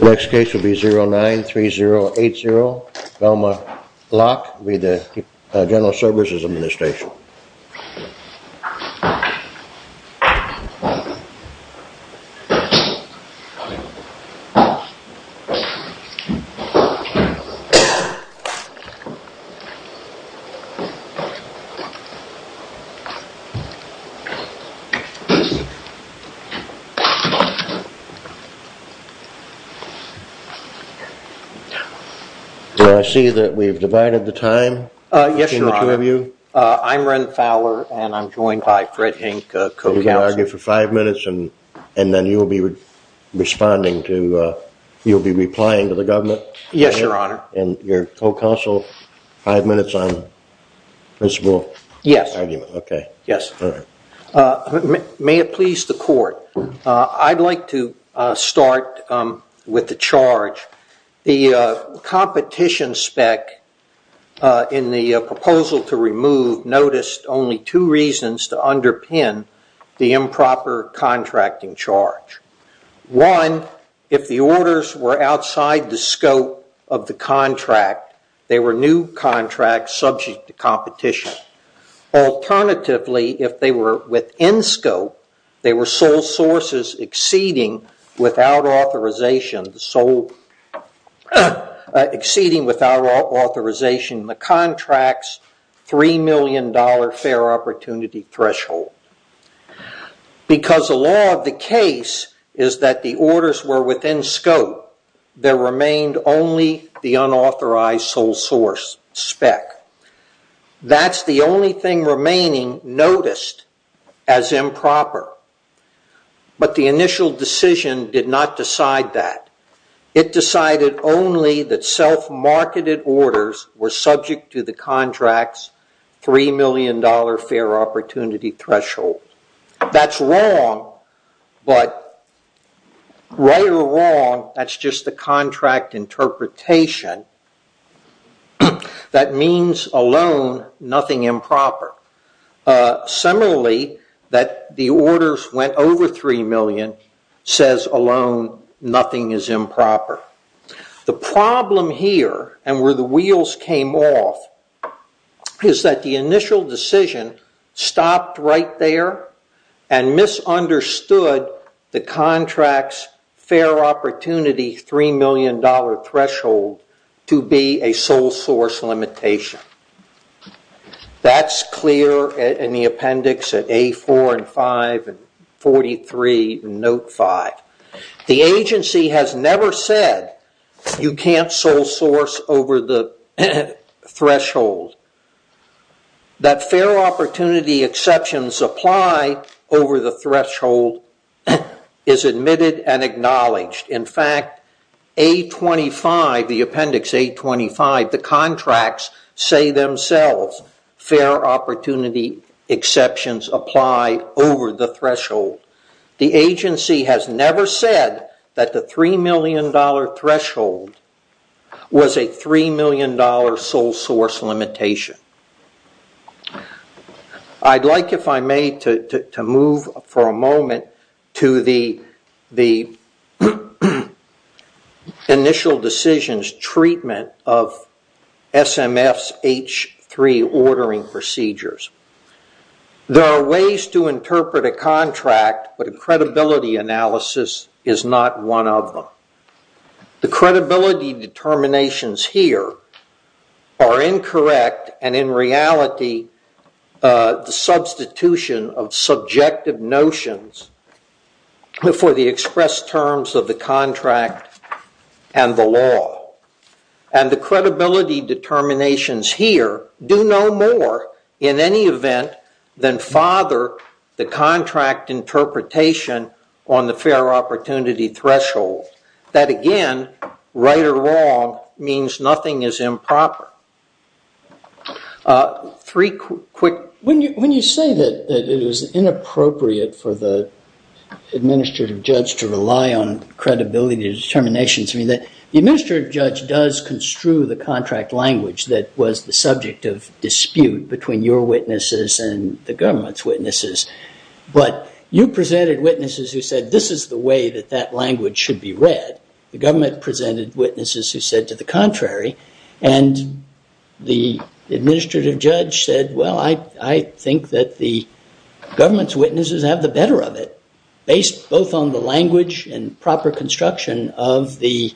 Next case will be 093080 Velma Locke with the General Services Administration. I see that we've divided the time between the two of you. I'm Wren Fowler and I'm joined by Fred Hink, co-counsel. You can argue for five minutes and then you'll be responding to, you'll be replying to the government. Yes, your honor. And you're co-counsel. Five minutes on principle. Okay. Yes. May it please the court. I'd like to start with the charge. The competition spec in the proposal to remove noticed only two reasons to underpin the improper contracting charge. One, if the orders were outside the scope of the contract, they were new contracts subject to competition. Alternatively, if they were within scope, they were sole sources exceeding without authorization, the sole exceeding without authorization in the contract's $3 million fair opportunity threshold. Because the law of the case is that the orders were within scope, there remained only the unauthorized sole source spec. That's the only thing remaining noticed as improper. But the initial decision did not decide that. It decided only that self-marketed orders were subject to the contract's $3 million fair opportunity threshold. That's wrong, but right or wrong, that's just the contract interpretation. That means alone nothing improper. Similarly, that the orders went over $3 million says alone nothing is improper. The problem here, and where the wheels came off, is that the initial decision stopped right there and misunderstood the contract's fair opportunity $3 million threshold to be a sole source limitation. That's clear in the appendix at A4 and 5 and 43 and note 5. The agency has never said you can't sole source over the threshold. That fair opportunity exceptions apply over the threshold is admitted and acknowledged. In fact, A25, the appendix A25, the contracts say themselves fair opportunity exceptions apply over the threshold. The agency has never said that the $3 million threshold was a $3 million sole source limitation. I'd like, if I may, to move for a moment to the initial decision's treatment of SMF's H3 ordering procedures. There are ways to interpret a contract, but a credibility analysis is not one of them. The credibility determinations here are incorrect, and in reality the substitution of subjective notions for the expressed terms of the contract and the law. The credibility determinations here do no more, in any event, than father the contract interpretation on the fair opportunity threshold. That again, right or wrong, means nothing is improper. When you say that it is inappropriate for the administrative judge to rely on credibility determinations, I mean, the administrative judge does construe the contract language that was the subject of dispute between your witnesses and the government's witnesses, but you presented witnesses who said this is the way that that language should be read. The government presented witnesses who said to the contrary, and the administrative judge said, well, I think that the government's witnesses have the better of it, based both on the language and proper construction of the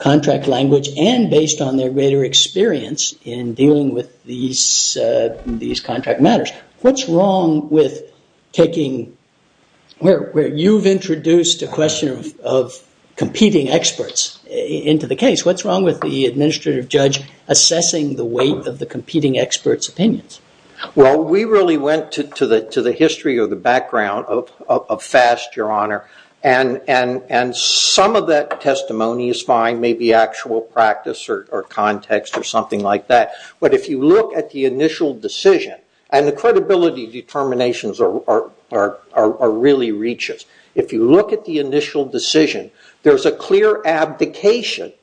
contract language and based on their greater experience in dealing with these contract matters. What's wrong with taking where you've introduced a question of competing experts into the case? What's wrong with the administrative judge assessing the weight of the competing experts' opinions? We really went to the history or the background of FAST, Your Honor, and some of that testimony is fine, maybe actual practice or context or something like that, but if you look at the initial decision, and the credibility determinations are really reaches. If you look at the initial decision, there's a clear abdication.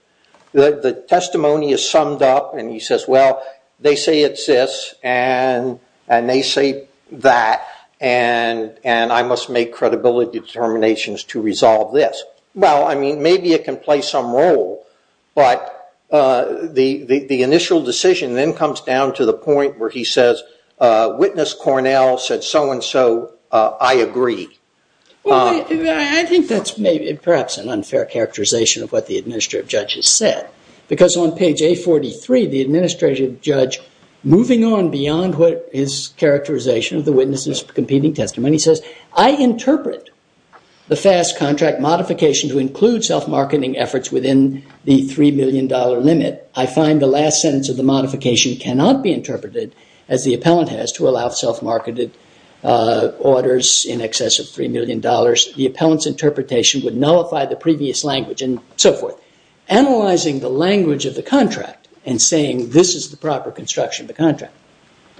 The testimony is summed up, and he says, well, they say it's this, and they say that, and I must make credibility determinations to resolve this. Well, I mean, maybe it can play some role, but the initial decision then comes down to the point where he says, witness Cornell said so and so, I agree. Well, I think that's perhaps an unfair characterization of what the administrative judge has said, because on page A43, the administrative judge, moving on beyond his characterization of the witnesses' competing testimony, says, I interpret the FAST contract modification to include self-marketing efforts within the $3 million limit. I find the last sentence of the modification cannot be interpreted as the appellant has to allow self-marketed orders in excess of $3 million. The appellant's interpretation would nullify the previous language and so forth. Analyzing the language of the contract and saying this is the proper construction of the contract,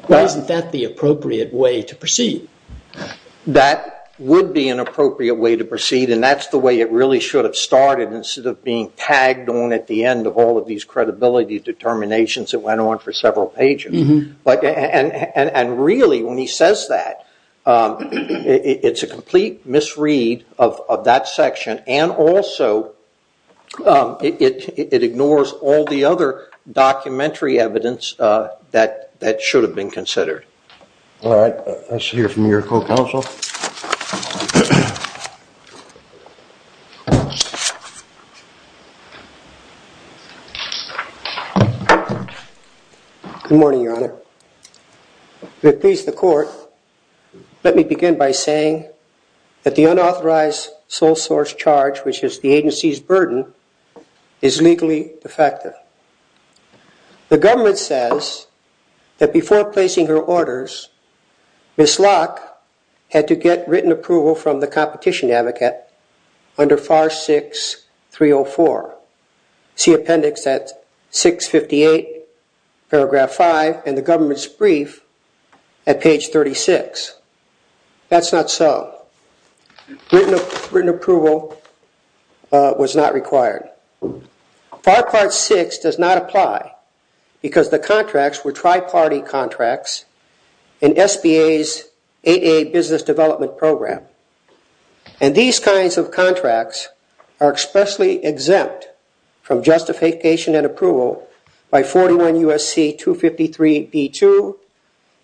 isn't that the appropriate way to proceed? That would be an appropriate way to proceed, and that's the way it really should have started instead of being tagged on at the end of all of these credibility determinations that went on for several pages. And really, when he says that, it's a complete misread of that section, and also, it ignores all the other documentary evidence that should have been considered. All right, let's hear from your co-counsel. Good morning, Your Honor. To appease the court, let me begin by saying that the unauthorized sole source charge, which is the agency's burden, is legally defective. The government says that before placing her orders, Ms. Locke had already made a statement and to get written approval from the competition advocate under FAR 6-304. See appendix at 658, paragraph 5, and the government's brief at page 36. That's not so. Written approval was not required. FAR Part 6 does not apply because the contracts were tri-party contracts in SBA's 8A business development program, and these kinds of contracts are expressly exempt from justification and approval by 41 U.S.C. 253b2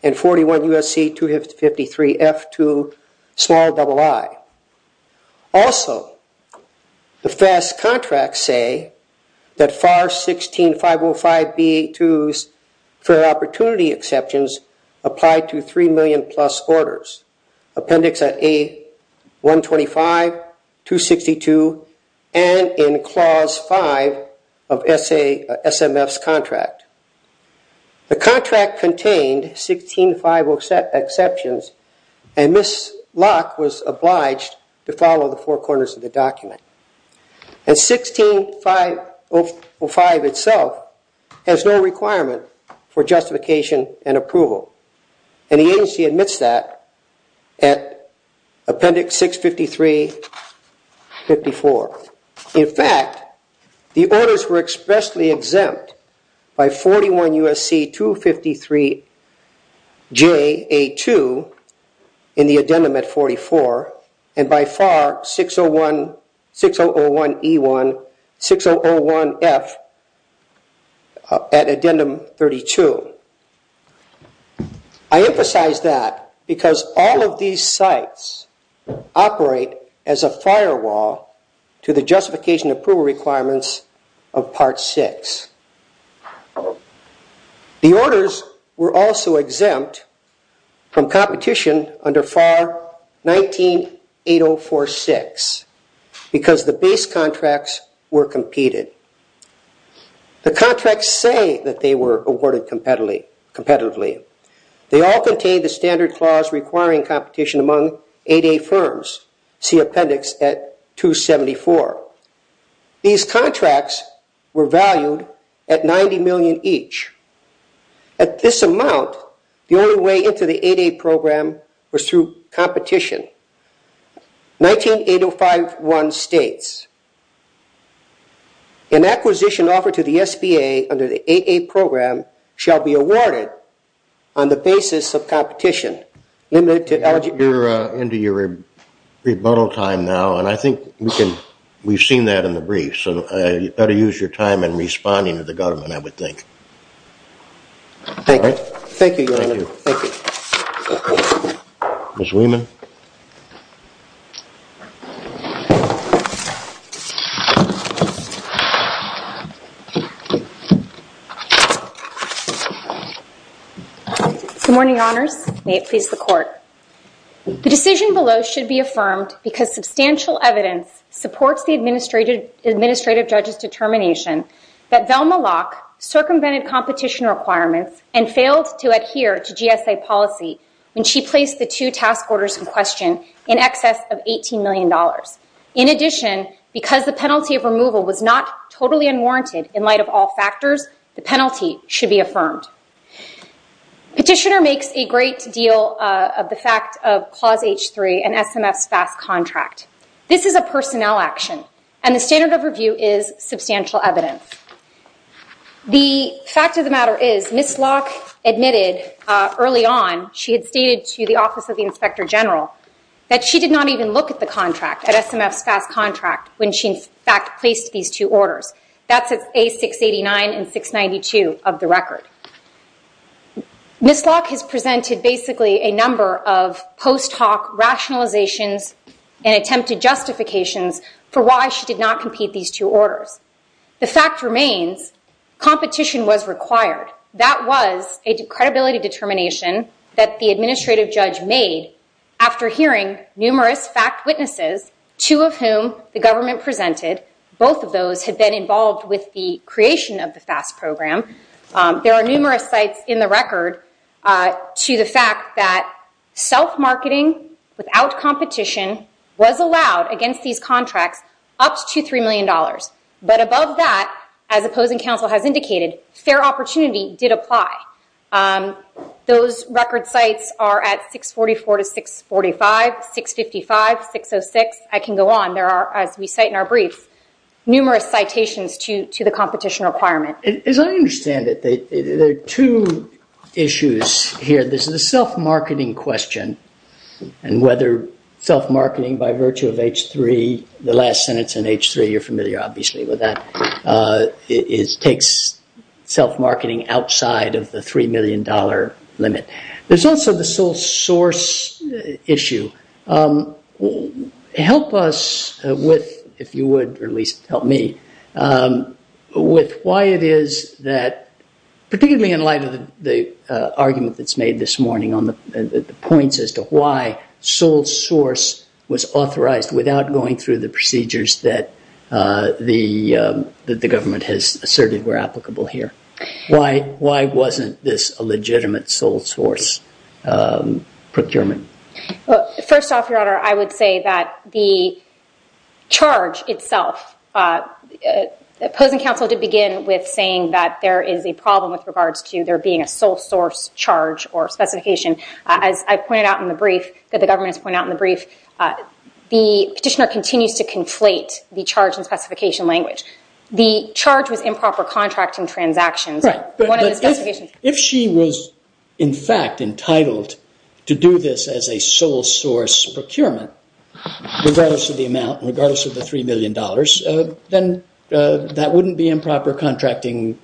and 41 U.S.C. 253f2ii. Also, the FAST contracts say that FAR 16-505b2's fair opportunity exceptions apply to 3 million plus orders. Appendix at A-125, 262, and in clause 5 of SMF's contract. The contract contained 16-505 exceptions, and Ms. Locke was obliged to follow the four corners of the document. And 16-505 itself has no requirement for justification and approval, and the agency admits that at appendix 653-54. In fact, the orders were expressly exempt by 41 U.S.C. 253ja2 in the addendum at 44 and by FAR 6001e1-6001f at addendum 32. I emphasize that because all of these sites operate as a firewall to the justification and approval requirements of Part 6. The orders were also exempt from competition under FAR 198046 because the base contracts were competed. The contracts say that they were awarded competitively. They all contain the standard clause requiring competition among 8A firms. See appendix at 274. These contracts were valued at 90 million each. At this amount, the only way into the 8A program was through competition. 198051 states, an acquisition offered to the SBA under the 8A program shall be awarded on the basis of competition. You're into your rebuttal time now, and I think we've seen that in the brief, so you better use your time in responding to the government, I would think. Thank you. Thank you, Your Honor. Thank you. Ms. Wieman. Good morning, Your Honors. May it please the Court. The decision below should be affirmed because substantial evidence supports the administrative judge's determination that Velma Locke circumvented competition requirements and failed to adhere to GSA policy when she placed the two task orders in question in excess of $18 million. In addition, because the penalty of removal was not totally unwarranted in light of all factors, the penalty should be affirmed. Petitioner makes a great deal of the fact of Clause H3 and SMF's fast contract. This is a personnel action, and the standard of review is substantial evidence. The fact of the matter is Ms. Locke admitted early on, she had stated to the Office of the Inspector General, that she did not even look at the contract, at SMF's fast contract, when she in fact placed these two orders. That's at A689 and 692 of the record. Ms. Locke has presented basically a number of post-talk rationalizations and attempted justifications for why she did not compete these two orders. The fact remains, competition was required. That was a credibility determination that the administrative judge made after hearing numerous fact witnesses, two of whom the government presented. Both of those had been involved with the creation of the fast program. There are numerous sites in the record to the fact that self-marketing without competition was allowed against these contracts up to $3 million. But above that, as opposing counsel has indicated, fair opportunity did apply. Those record sites are at 644 to 645, 655, 606. I can go on. There are, as we cite in our briefs, numerous citations to the competition requirement. As I understand it, there are two issues here. This is a self-marketing question, and whether self-marketing by virtue of H3, the last sentence in H3, you're familiar obviously with that, takes self-marketing outside of the $3 million limit. There's also the sole source issue. Help us with, if you would, or at least help me, with why it is that, particularly in light of the argument that's made this morning as to why sole source was authorized without going through the procedures that the government has asserted were applicable here. Why wasn't this a legitimate sole source procurement? First off, Your Honor, I would say that the charge itself, opposing counsel did begin with saying that there is a problem with regards to there being a sole source charge or specification. As I pointed out in the brief that the government has pointed out in the brief, the petitioner continues to conflate the charge and specification language. The charge was improper contracting transactions. If she was in fact entitled to do this as a sole source procurement, regardless of the amount, regardless of the $3 million, then that wouldn't be improper contracting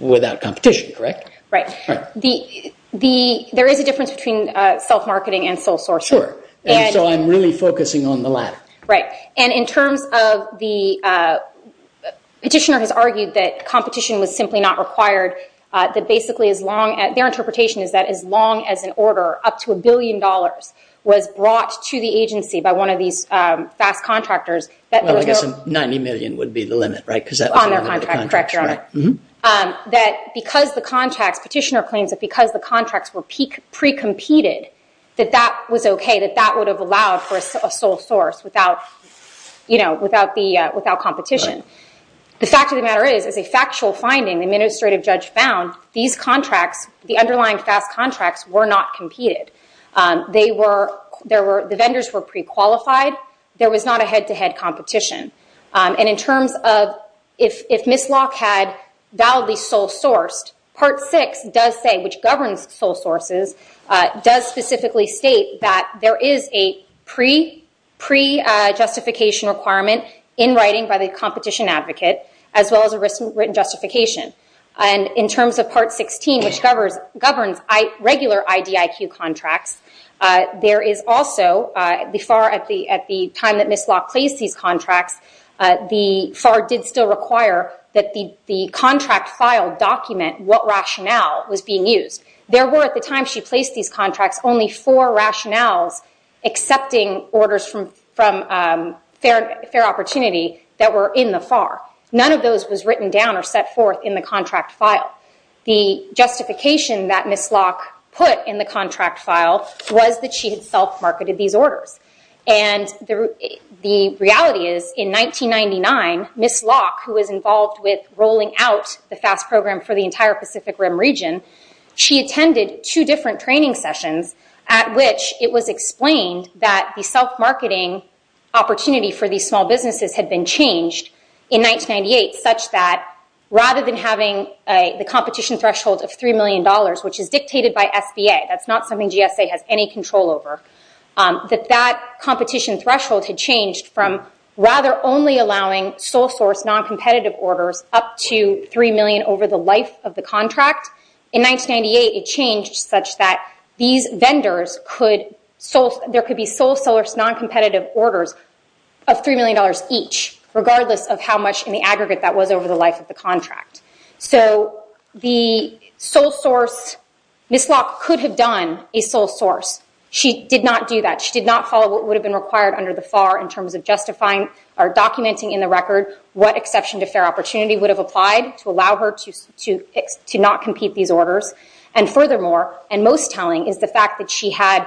without competition, correct? Right. There is a difference between self-marketing and sole source. Sure. I'm really focusing on the latter. Right. In terms of the petitioner has argued that competition was simply not required. Their interpretation is that as long as an order up to a billion dollars was brought to the agency by one of these fast contractors, I guess 90 million would be the limit, right? On their contract, correct, Your Honor. That because the contracts, petitioner claims that because the contracts were pre-competed, that that was okay, that that would have allowed for a sole source without competition. The fact of the matter is, as a factual finding, the administrative judge found, these contracts, the underlying fast contracts were not competed. The vendors were pre-qualified. There was not a head-to-head competition. And in terms of if Ms. Locke had validly sole sourced, Part 6 does say, which governs sole sources, does specifically state that there is a pre-justification requirement in writing by the competition advocate, as well as a written justification. In terms of Part 16, which governs regular IDIQ contracts, there is also, at the time that Ms. Locke placed these contracts, the FAR did still require that the contract file document what rationale was being used. There were, at the time she placed these contracts, only four rationales accepting orders from Fair Opportunity that were in the FAR. None of those was written down or set forth in the contract file. The justification that Ms. Locke put in the contract file was that she had self-marketed these orders. And the reality is, in 1999, Ms. Locke, who was involved with rolling out the FAST program for the entire Pacific Rim region, she attended two different training sessions, at which it was explained that the self-marketing opportunity for these small businesses had been changed in 1998, such that rather than having the competition threshold of $3 million, which is dictated by SBA, that's not something GSA has any control over, that that competition threshold had changed from rather only allowing sole source non-competitive orders up to $3 million over the life of the contract. In 1998, it changed such that these vendors could... of $3 million each, regardless of how much in the aggregate that was over the life of the contract. So the sole source, Ms. Locke could have done a sole source. She did not do that. She did not follow what would have been required under the FAR in terms of justifying or documenting in the record what exception to Fair Opportunity would have applied to allow her to not compete these orders. And furthermore, and most telling, is the fact that she had,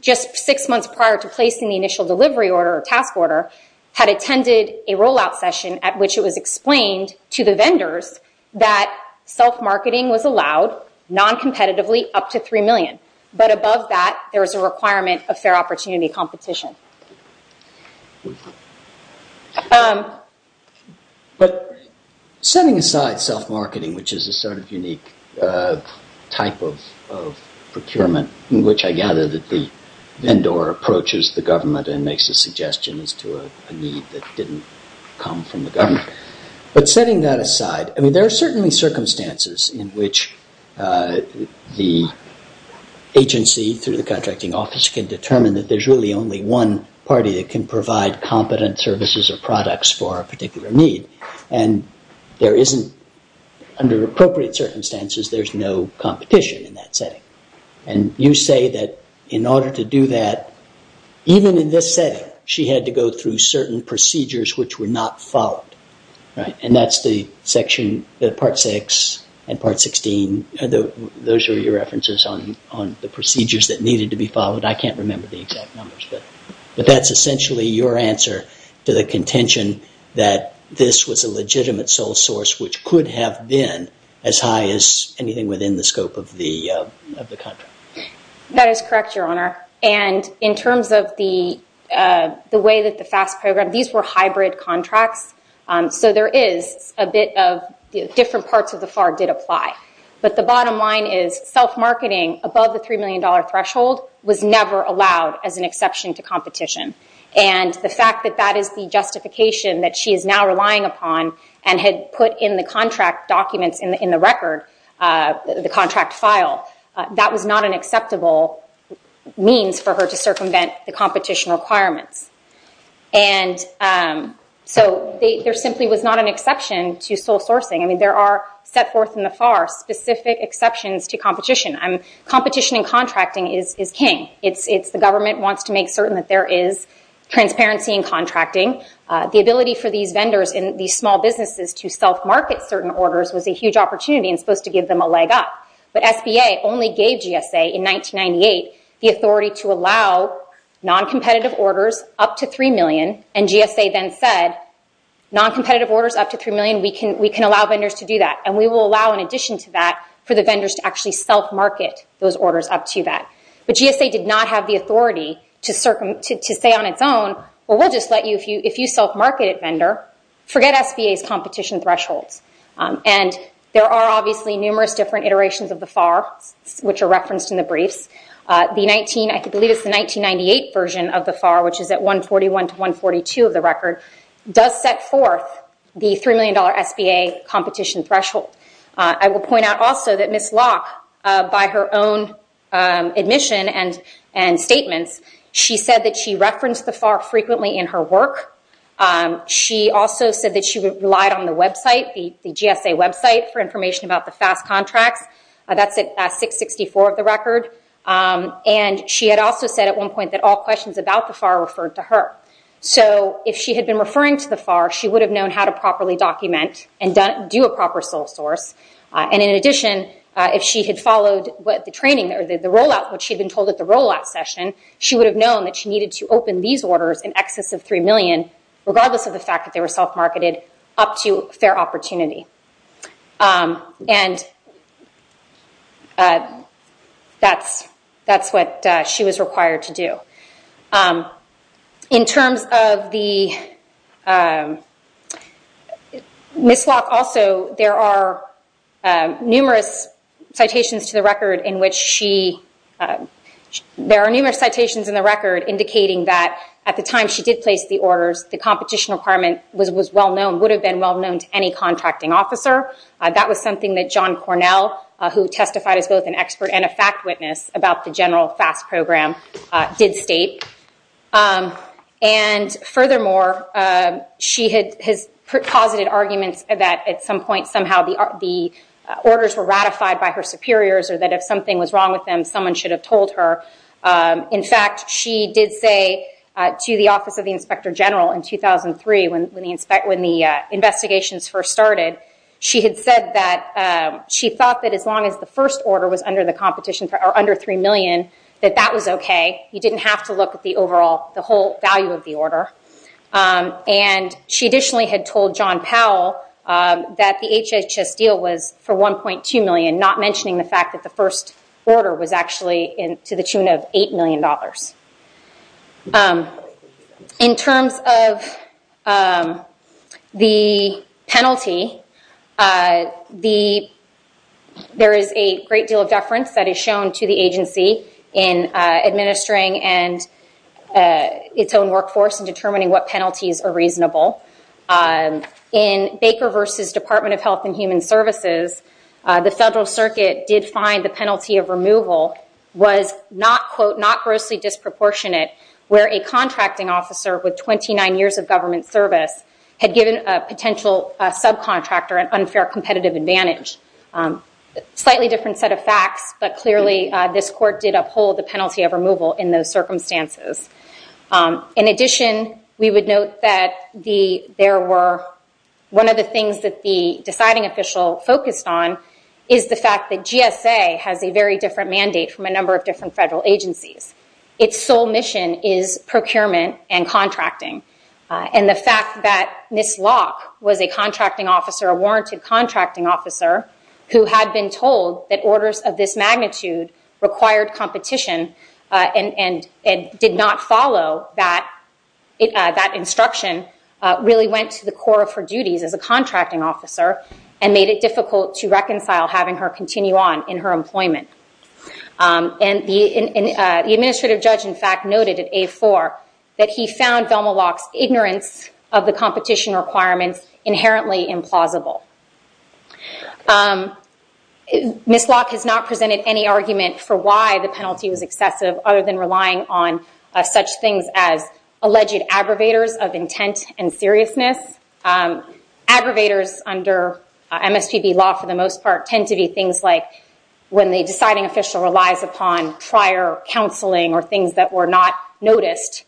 just six months prior to placing the initial delivery order or task order, had attended a rollout session at which it was explained to the vendors that self-marketing was allowed non-competitively up to $3 million. But above that, there was a requirement of Fair Opportunity competition. But setting aside self-marketing, which is a sort of unique type of procurement, in which I gather that the vendor approaches the government and makes a suggestion as to a need that didn't come from the government. But setting that aside, I mean, there are certainly circumstances in which the agency through the contracting office can determine that there's really only one party that can provide competent services or products for a particular need. And there isn't, under appropriate circumstances, there's no competition in that setting. And you say that in order to do that, even in this setting, she had to go through certain procedures which were not followed. And that's the section, Part 6 and Part 16, those are your references on the procedures that needed to be followed. I can't remember the exact numbers. But that's essentially your answer to the contention that this was a legitimate sole source which could have been as high as anything within the scope of the contract. That is correct, Your Honor. And in terms of the way that the FAST program, these were hybrid contracts. So there is a bit of different parts of the FAR did apply. But the bottom line is self-marketing above the $3 million threshold was never allowed as an exception to competition. And the fact that that is the justification that she is now relying upon and had put in the contract documents in the record, the contract file, that was not an acceptable means for her to circumvent the competition requirements. And so there simply was not an exception to sole sourcing. I mean, there are set forth in the FAR specific exceptions to competition. Competition in contracting is king. It's the government wants to make certain that there is transparency in contracting. The ability for these vendors and these small businesses to self-market certain orders was a huge opportunity and supposed to give them a leg up. But SBA only gave GSA in 1998 the authority to allow non-competitive orders up to $3 million. And GSA then said, non-competitive orders up to $3 million, we can allow vendors to do that. And we will allow in addition to that for the vendors to actually self-market those orders up to that. But GSA did not have the authority to say on its own, well, we'll just let you, if you self-market a vendor, forget SBA's competition thresholds. And there are obviously numerous different iterations of the FAR, which are referenced in the briefs. The 19, I believe it's the 1998 version of the FAR, which is at 141 to 142 of the record, does set forth the $3 million SBA competition threshold. I will point out also that Ms. Locke, by her own admission and statements, she said that she referenced the FAR frequently in her work. She also said that she relied on the website, the GSA website, for information about the FAST contracts. That's at 664 of the record. And she had also said at one point that all questions about the FAR referred to her. So if she had been referring to the FAR, she would have known how to properly document and do a proper sole source. And in addition, if she had followed the training or the rollout, she would have known that she needed to open these orders in excess of $3 million, regardless of the fact that they were self-marketed, up to fair opportunity. And that's what she was required to do. In terms of the Ms. Locke also, there are numerous citations to the record indicating that at the time she did place the orders, the competition requirement would have been well-known to any contracting officer. That was something that John Cornell, who testified as both an expert and a fact witness about the general FAST program, did state. And furthermore, she has posited arguments that at some point, somehow the orders were ratified by her superiors or that if something was wrong with them, someone should have told her. In fact, she did say to the Office of the Inspector General in 2003, when the investigations first started, she had said that she thought that as long as the first order was under the competition, or under $3 million, that that was okay. You didn't have to look at the overall, the whole value of the order. And she additionally had told John Powell that the HHS deal was for $1.2 million, not mentioning the fact that the first order was actually to the tune of $8 million. In terms of the penalty, there is a great deal of deference that is shown to the agency in administering its own workforce and determining what penalties are reasonable. In Baker v. Department of Health and Human Services, the Federal Circuit did find the penalty of removal was not, quote, not grossly disproportionate where a contracting officer with 29 years of government service had given a potential subcontractor an unfair competitive advantage. Slightly different set of facts, but clearly this court did uphold the penalty of removal in those circumstances. In addition, we would note that there were, one of the things that the deciding official focused on is the fact that GSA has a very different mandate from a number of different federal agencies. Its sole mission is procurement and contracting. And the fact that Ms. Locke was a contracting officer, a warranted contracting officer, who had been told that orders of this magnitude required competition and did not follow that instruction, really went to the core of her duties as a contracting officer and made it difficult to reconcile having her continue on in her employment. And the administrative judge, in fact, noted at A4 that he found Velma Locke's ignorance of the competition requirements inherently implausible. Ms. Locke has not presented any argument for why the penalty was excessive other than relying on such things as alleged aggravators of intent and seriousness. Aggravators under MSPB law, for the most part, tend to be things like when the deciding official relies upon prior counseling or things that were not noticed.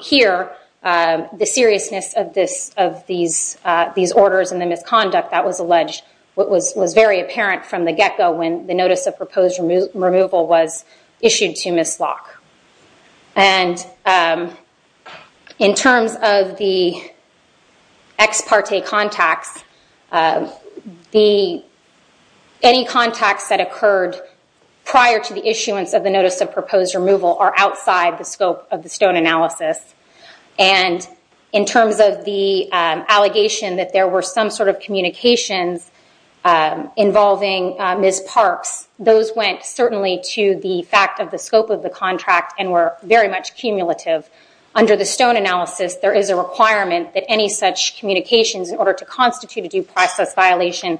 Here, the seriousness of these orders and the misconduct that was alleged was very apparent from the get-go when the notice of proposed removal was issued to Ms. Locke. And in terms of the ex parte contacts, any contacts that occurred prior to the issuance of the notice of proposed removal are outside the scope of the Stone analysis. And in terms of the allegation that there were some sort of communications involving Ms. Parks, those went certainly to the fact of the scope of the contract and were very much cumulative. Under the Stone analysis, there is a requirement that any such communications, in order to constitute a due process violation,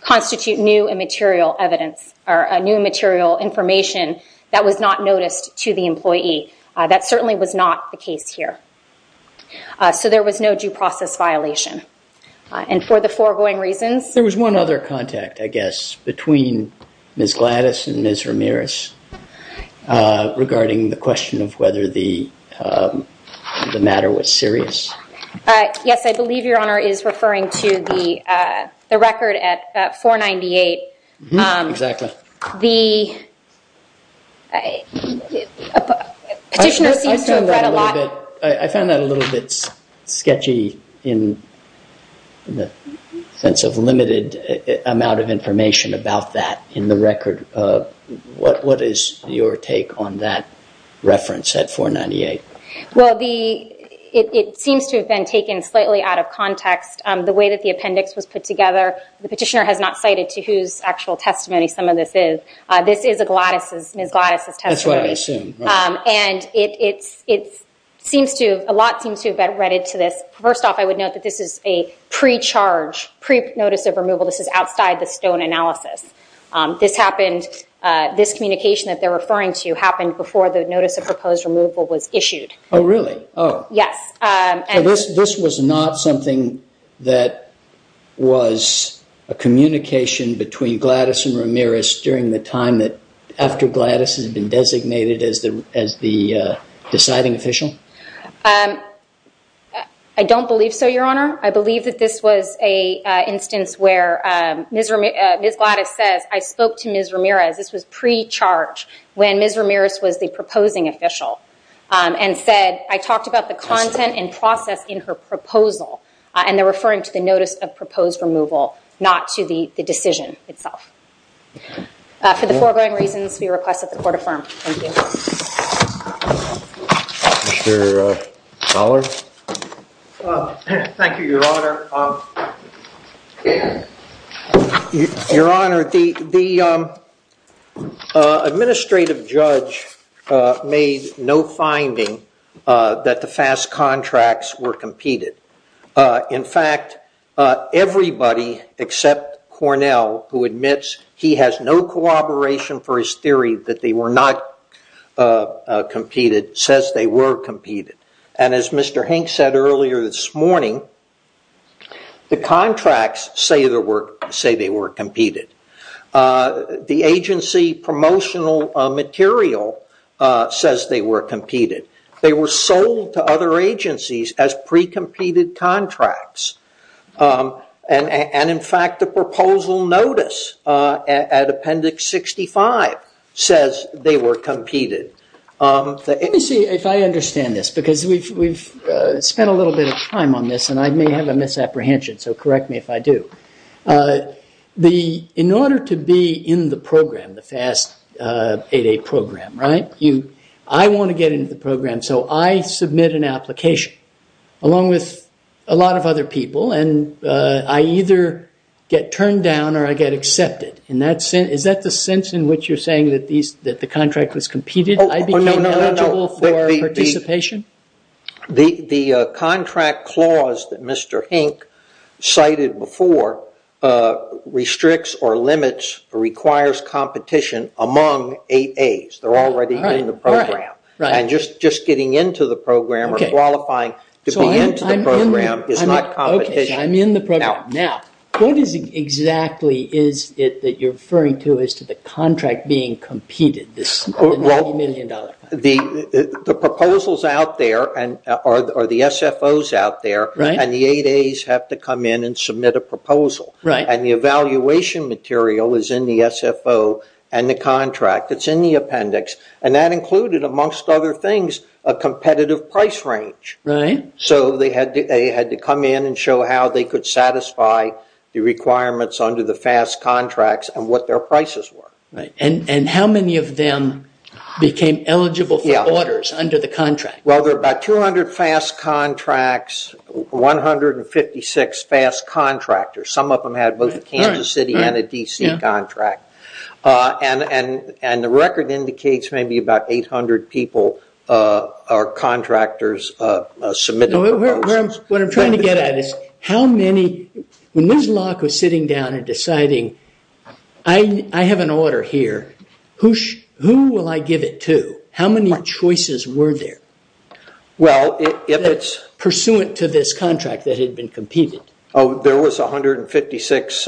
constitute new and material information that was not noticed to the employee. That certainly was not the case here. So there was no due process violation. And for the foregoing reasons... There was one other contact, I guess, between Ms. Gladys and Ms. Ramirez regarding the question of whether the matter was serious. Yes, I believe Your Honor is referring to the record at 498. Exactly. Petitioner seems to have read a lot... I found that a little bit sketchy in the sense of limited amount of information about that in the record. What is your take on that reference at 498? Well, it seems to have been taken slightly out of context. The way that the appendix was put together, the petitioner has not cited to whose actual testimony some of this is. This is Ms. Gladys' testimony. That's what I assumed. And a lot seems to have been read into this. First off, I would note that this is a pre-charge, pre-notice of removal. This is outside the Stone analysis. This communication that they're referring to happened before the notice of proposed removal was issued. Oh, really? Yes. This was not something that was a communication between Gladys and Ramirez during the time that after Gladys had been designated as the deciding official? I don't believe so, Your Honor. I believe that this was an instance where Ms. Gladys says, I spoke to Ms. Ramirez. This was pre-charge when Ms. Ramirez was the proposing official and said, I talked about the content and process in her proposal. And they're referring to the notice of proposed removal, not to the decision itself. For the foregoing reasons, we request that the court affirm. Thank you. Mr. Fowler? Thank you, Your Honor. Your Honor, the administrative judge made no finding that the FAST contracts were competed. In fact, everybody except Cornell, who admits he has no corroboration for his theory that they were not competed, says they were competed. And as Mr. Hink said earlier this morning, the contracts say they were competed. The agency promotional material says they were competed. They were sold to other agencies as pre-competed contracts. And in fact, the proposal notice at Appendix 65 says they were competed. Let me see if I understand this, because we've spent a little bit of time on this and I may have a misapprehension, so correct me if I do. In order to be in the program, the FAST 8A program, I want to get into the program, so I submit an application, along with a lot of other people, and I either get turned down or I get accepted. Is that the sense in which you're saying that the contract was competed? I became eligible for participation? The contract clause that Mr. Hink cited before restricts or limits or requires competition among 8As. They're already in the program. And just getting into the program or qualifying to be into the program is not competition. I'm in the program. Now, what exactly is it that you're referring to as to the contract being competed, the $90 million contract? The proposals out there, or the SFOs out there, and the 8As have to come in and submit a proposal. And the evaluation material is in the SFO and the contract. It's in the appendix. And that included, amongst other things, a competitive price range. So they had to come in and show how they could satisfy the requirements under the FAST contracts and what their prices were. And how many of them became eligible for orders under the contract? Well, there are about 200 FAST contracts, 156 FAST contractors. Some of them had both a Kansas City and a D.C. contract. And the record indicates maybe about 800 people are contractors submitted proposals. What I'm trying to get at is how many... When Ms. Locke was sitting down and deciding, I have an order here. Who will I give it to? How many choices were there? Well, if it's... Pursuant to this contract that had been competed. Oh, there was 156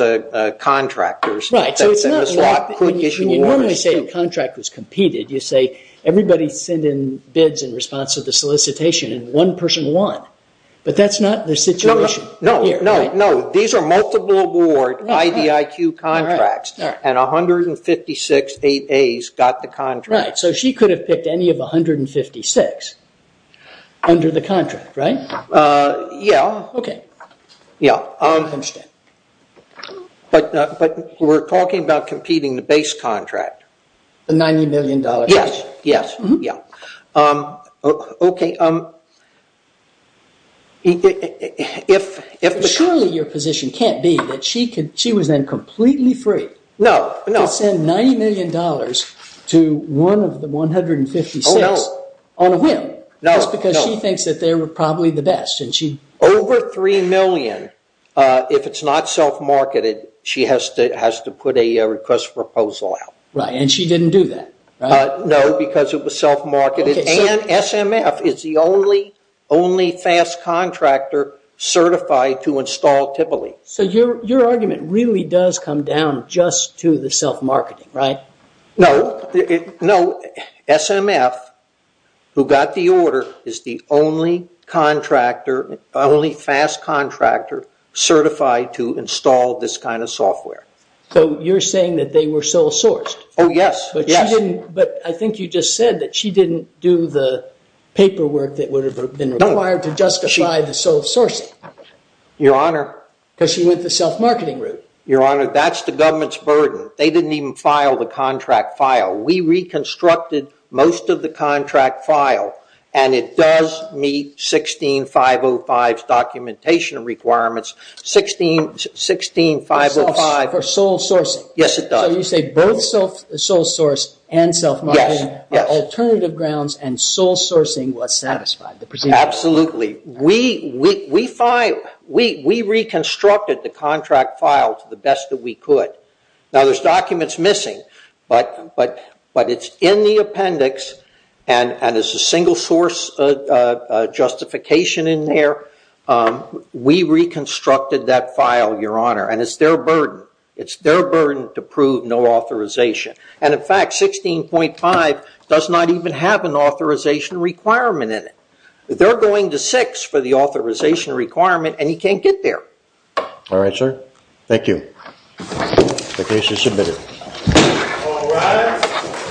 contractors that Ms. Locke could issue orders to. You normally say the contract was competed. You say everybody sent in bids in response to the solicitation and one person won. But that's not the situation here. No, no, no. These are multiple award IDIQ contracts. And 156 AAs got the contract. Right, so she could have picked any of 156 under the contract, right? Yeah. Okay. Yeah. I understand. But we're talking about competing the base contract. The $90 million... Yes, yes, yeah. Okay. Surely your position can't be that she was then completely free... No, no. ...to send $90 million to one of the 156... Oh, no. ...on a whim. No, no. Just because she thinks that they were probably the best and she... Over $3 million. If it's not self-marketed, she has to put a request for proposal out. Right, and she didn't do that, right? No, because it was self-marketed. And SMF is the only FAS contractor certified to install TIPOLI. So your argument really does come down just to the self-marketing, right? No. No. SMF, who got the order, is the only contractor, only FAS contractor certified to install this kind of software. So you're saying that they were sole-sourced? Oh, yes, yes. But I think you just said that she didn't do the paperwork that would have been required... No. ...to justify the sole-sourcing. Your Honor... Because she went the self-marketing route. Your Honor, that's the government's burden. They didn't even file the contract file. We reconstructed most of the contract file, and it does meet 16.505's documentation requirements. 16.505... For sole-sourcing? Yes, it does. So you say both sole-source and self-marketing... Yes, yes. ...are alternative grounds, and sole-sourcing was satisfied. Absolutely. We reconstructed the contract file to the best that we could. Now, there's documents missing, but it's in the appendix, and there's a single-source justification in there. We reconstructed that file, Your Honor, and it's their burden. It's their burden to prove no authorization. And in fact, 16.505 does not even have an authorization requirement in it. They're going to six for the authorization requirement, and you can't get there. All right, sir. Thank you. The case is submitted. All rise.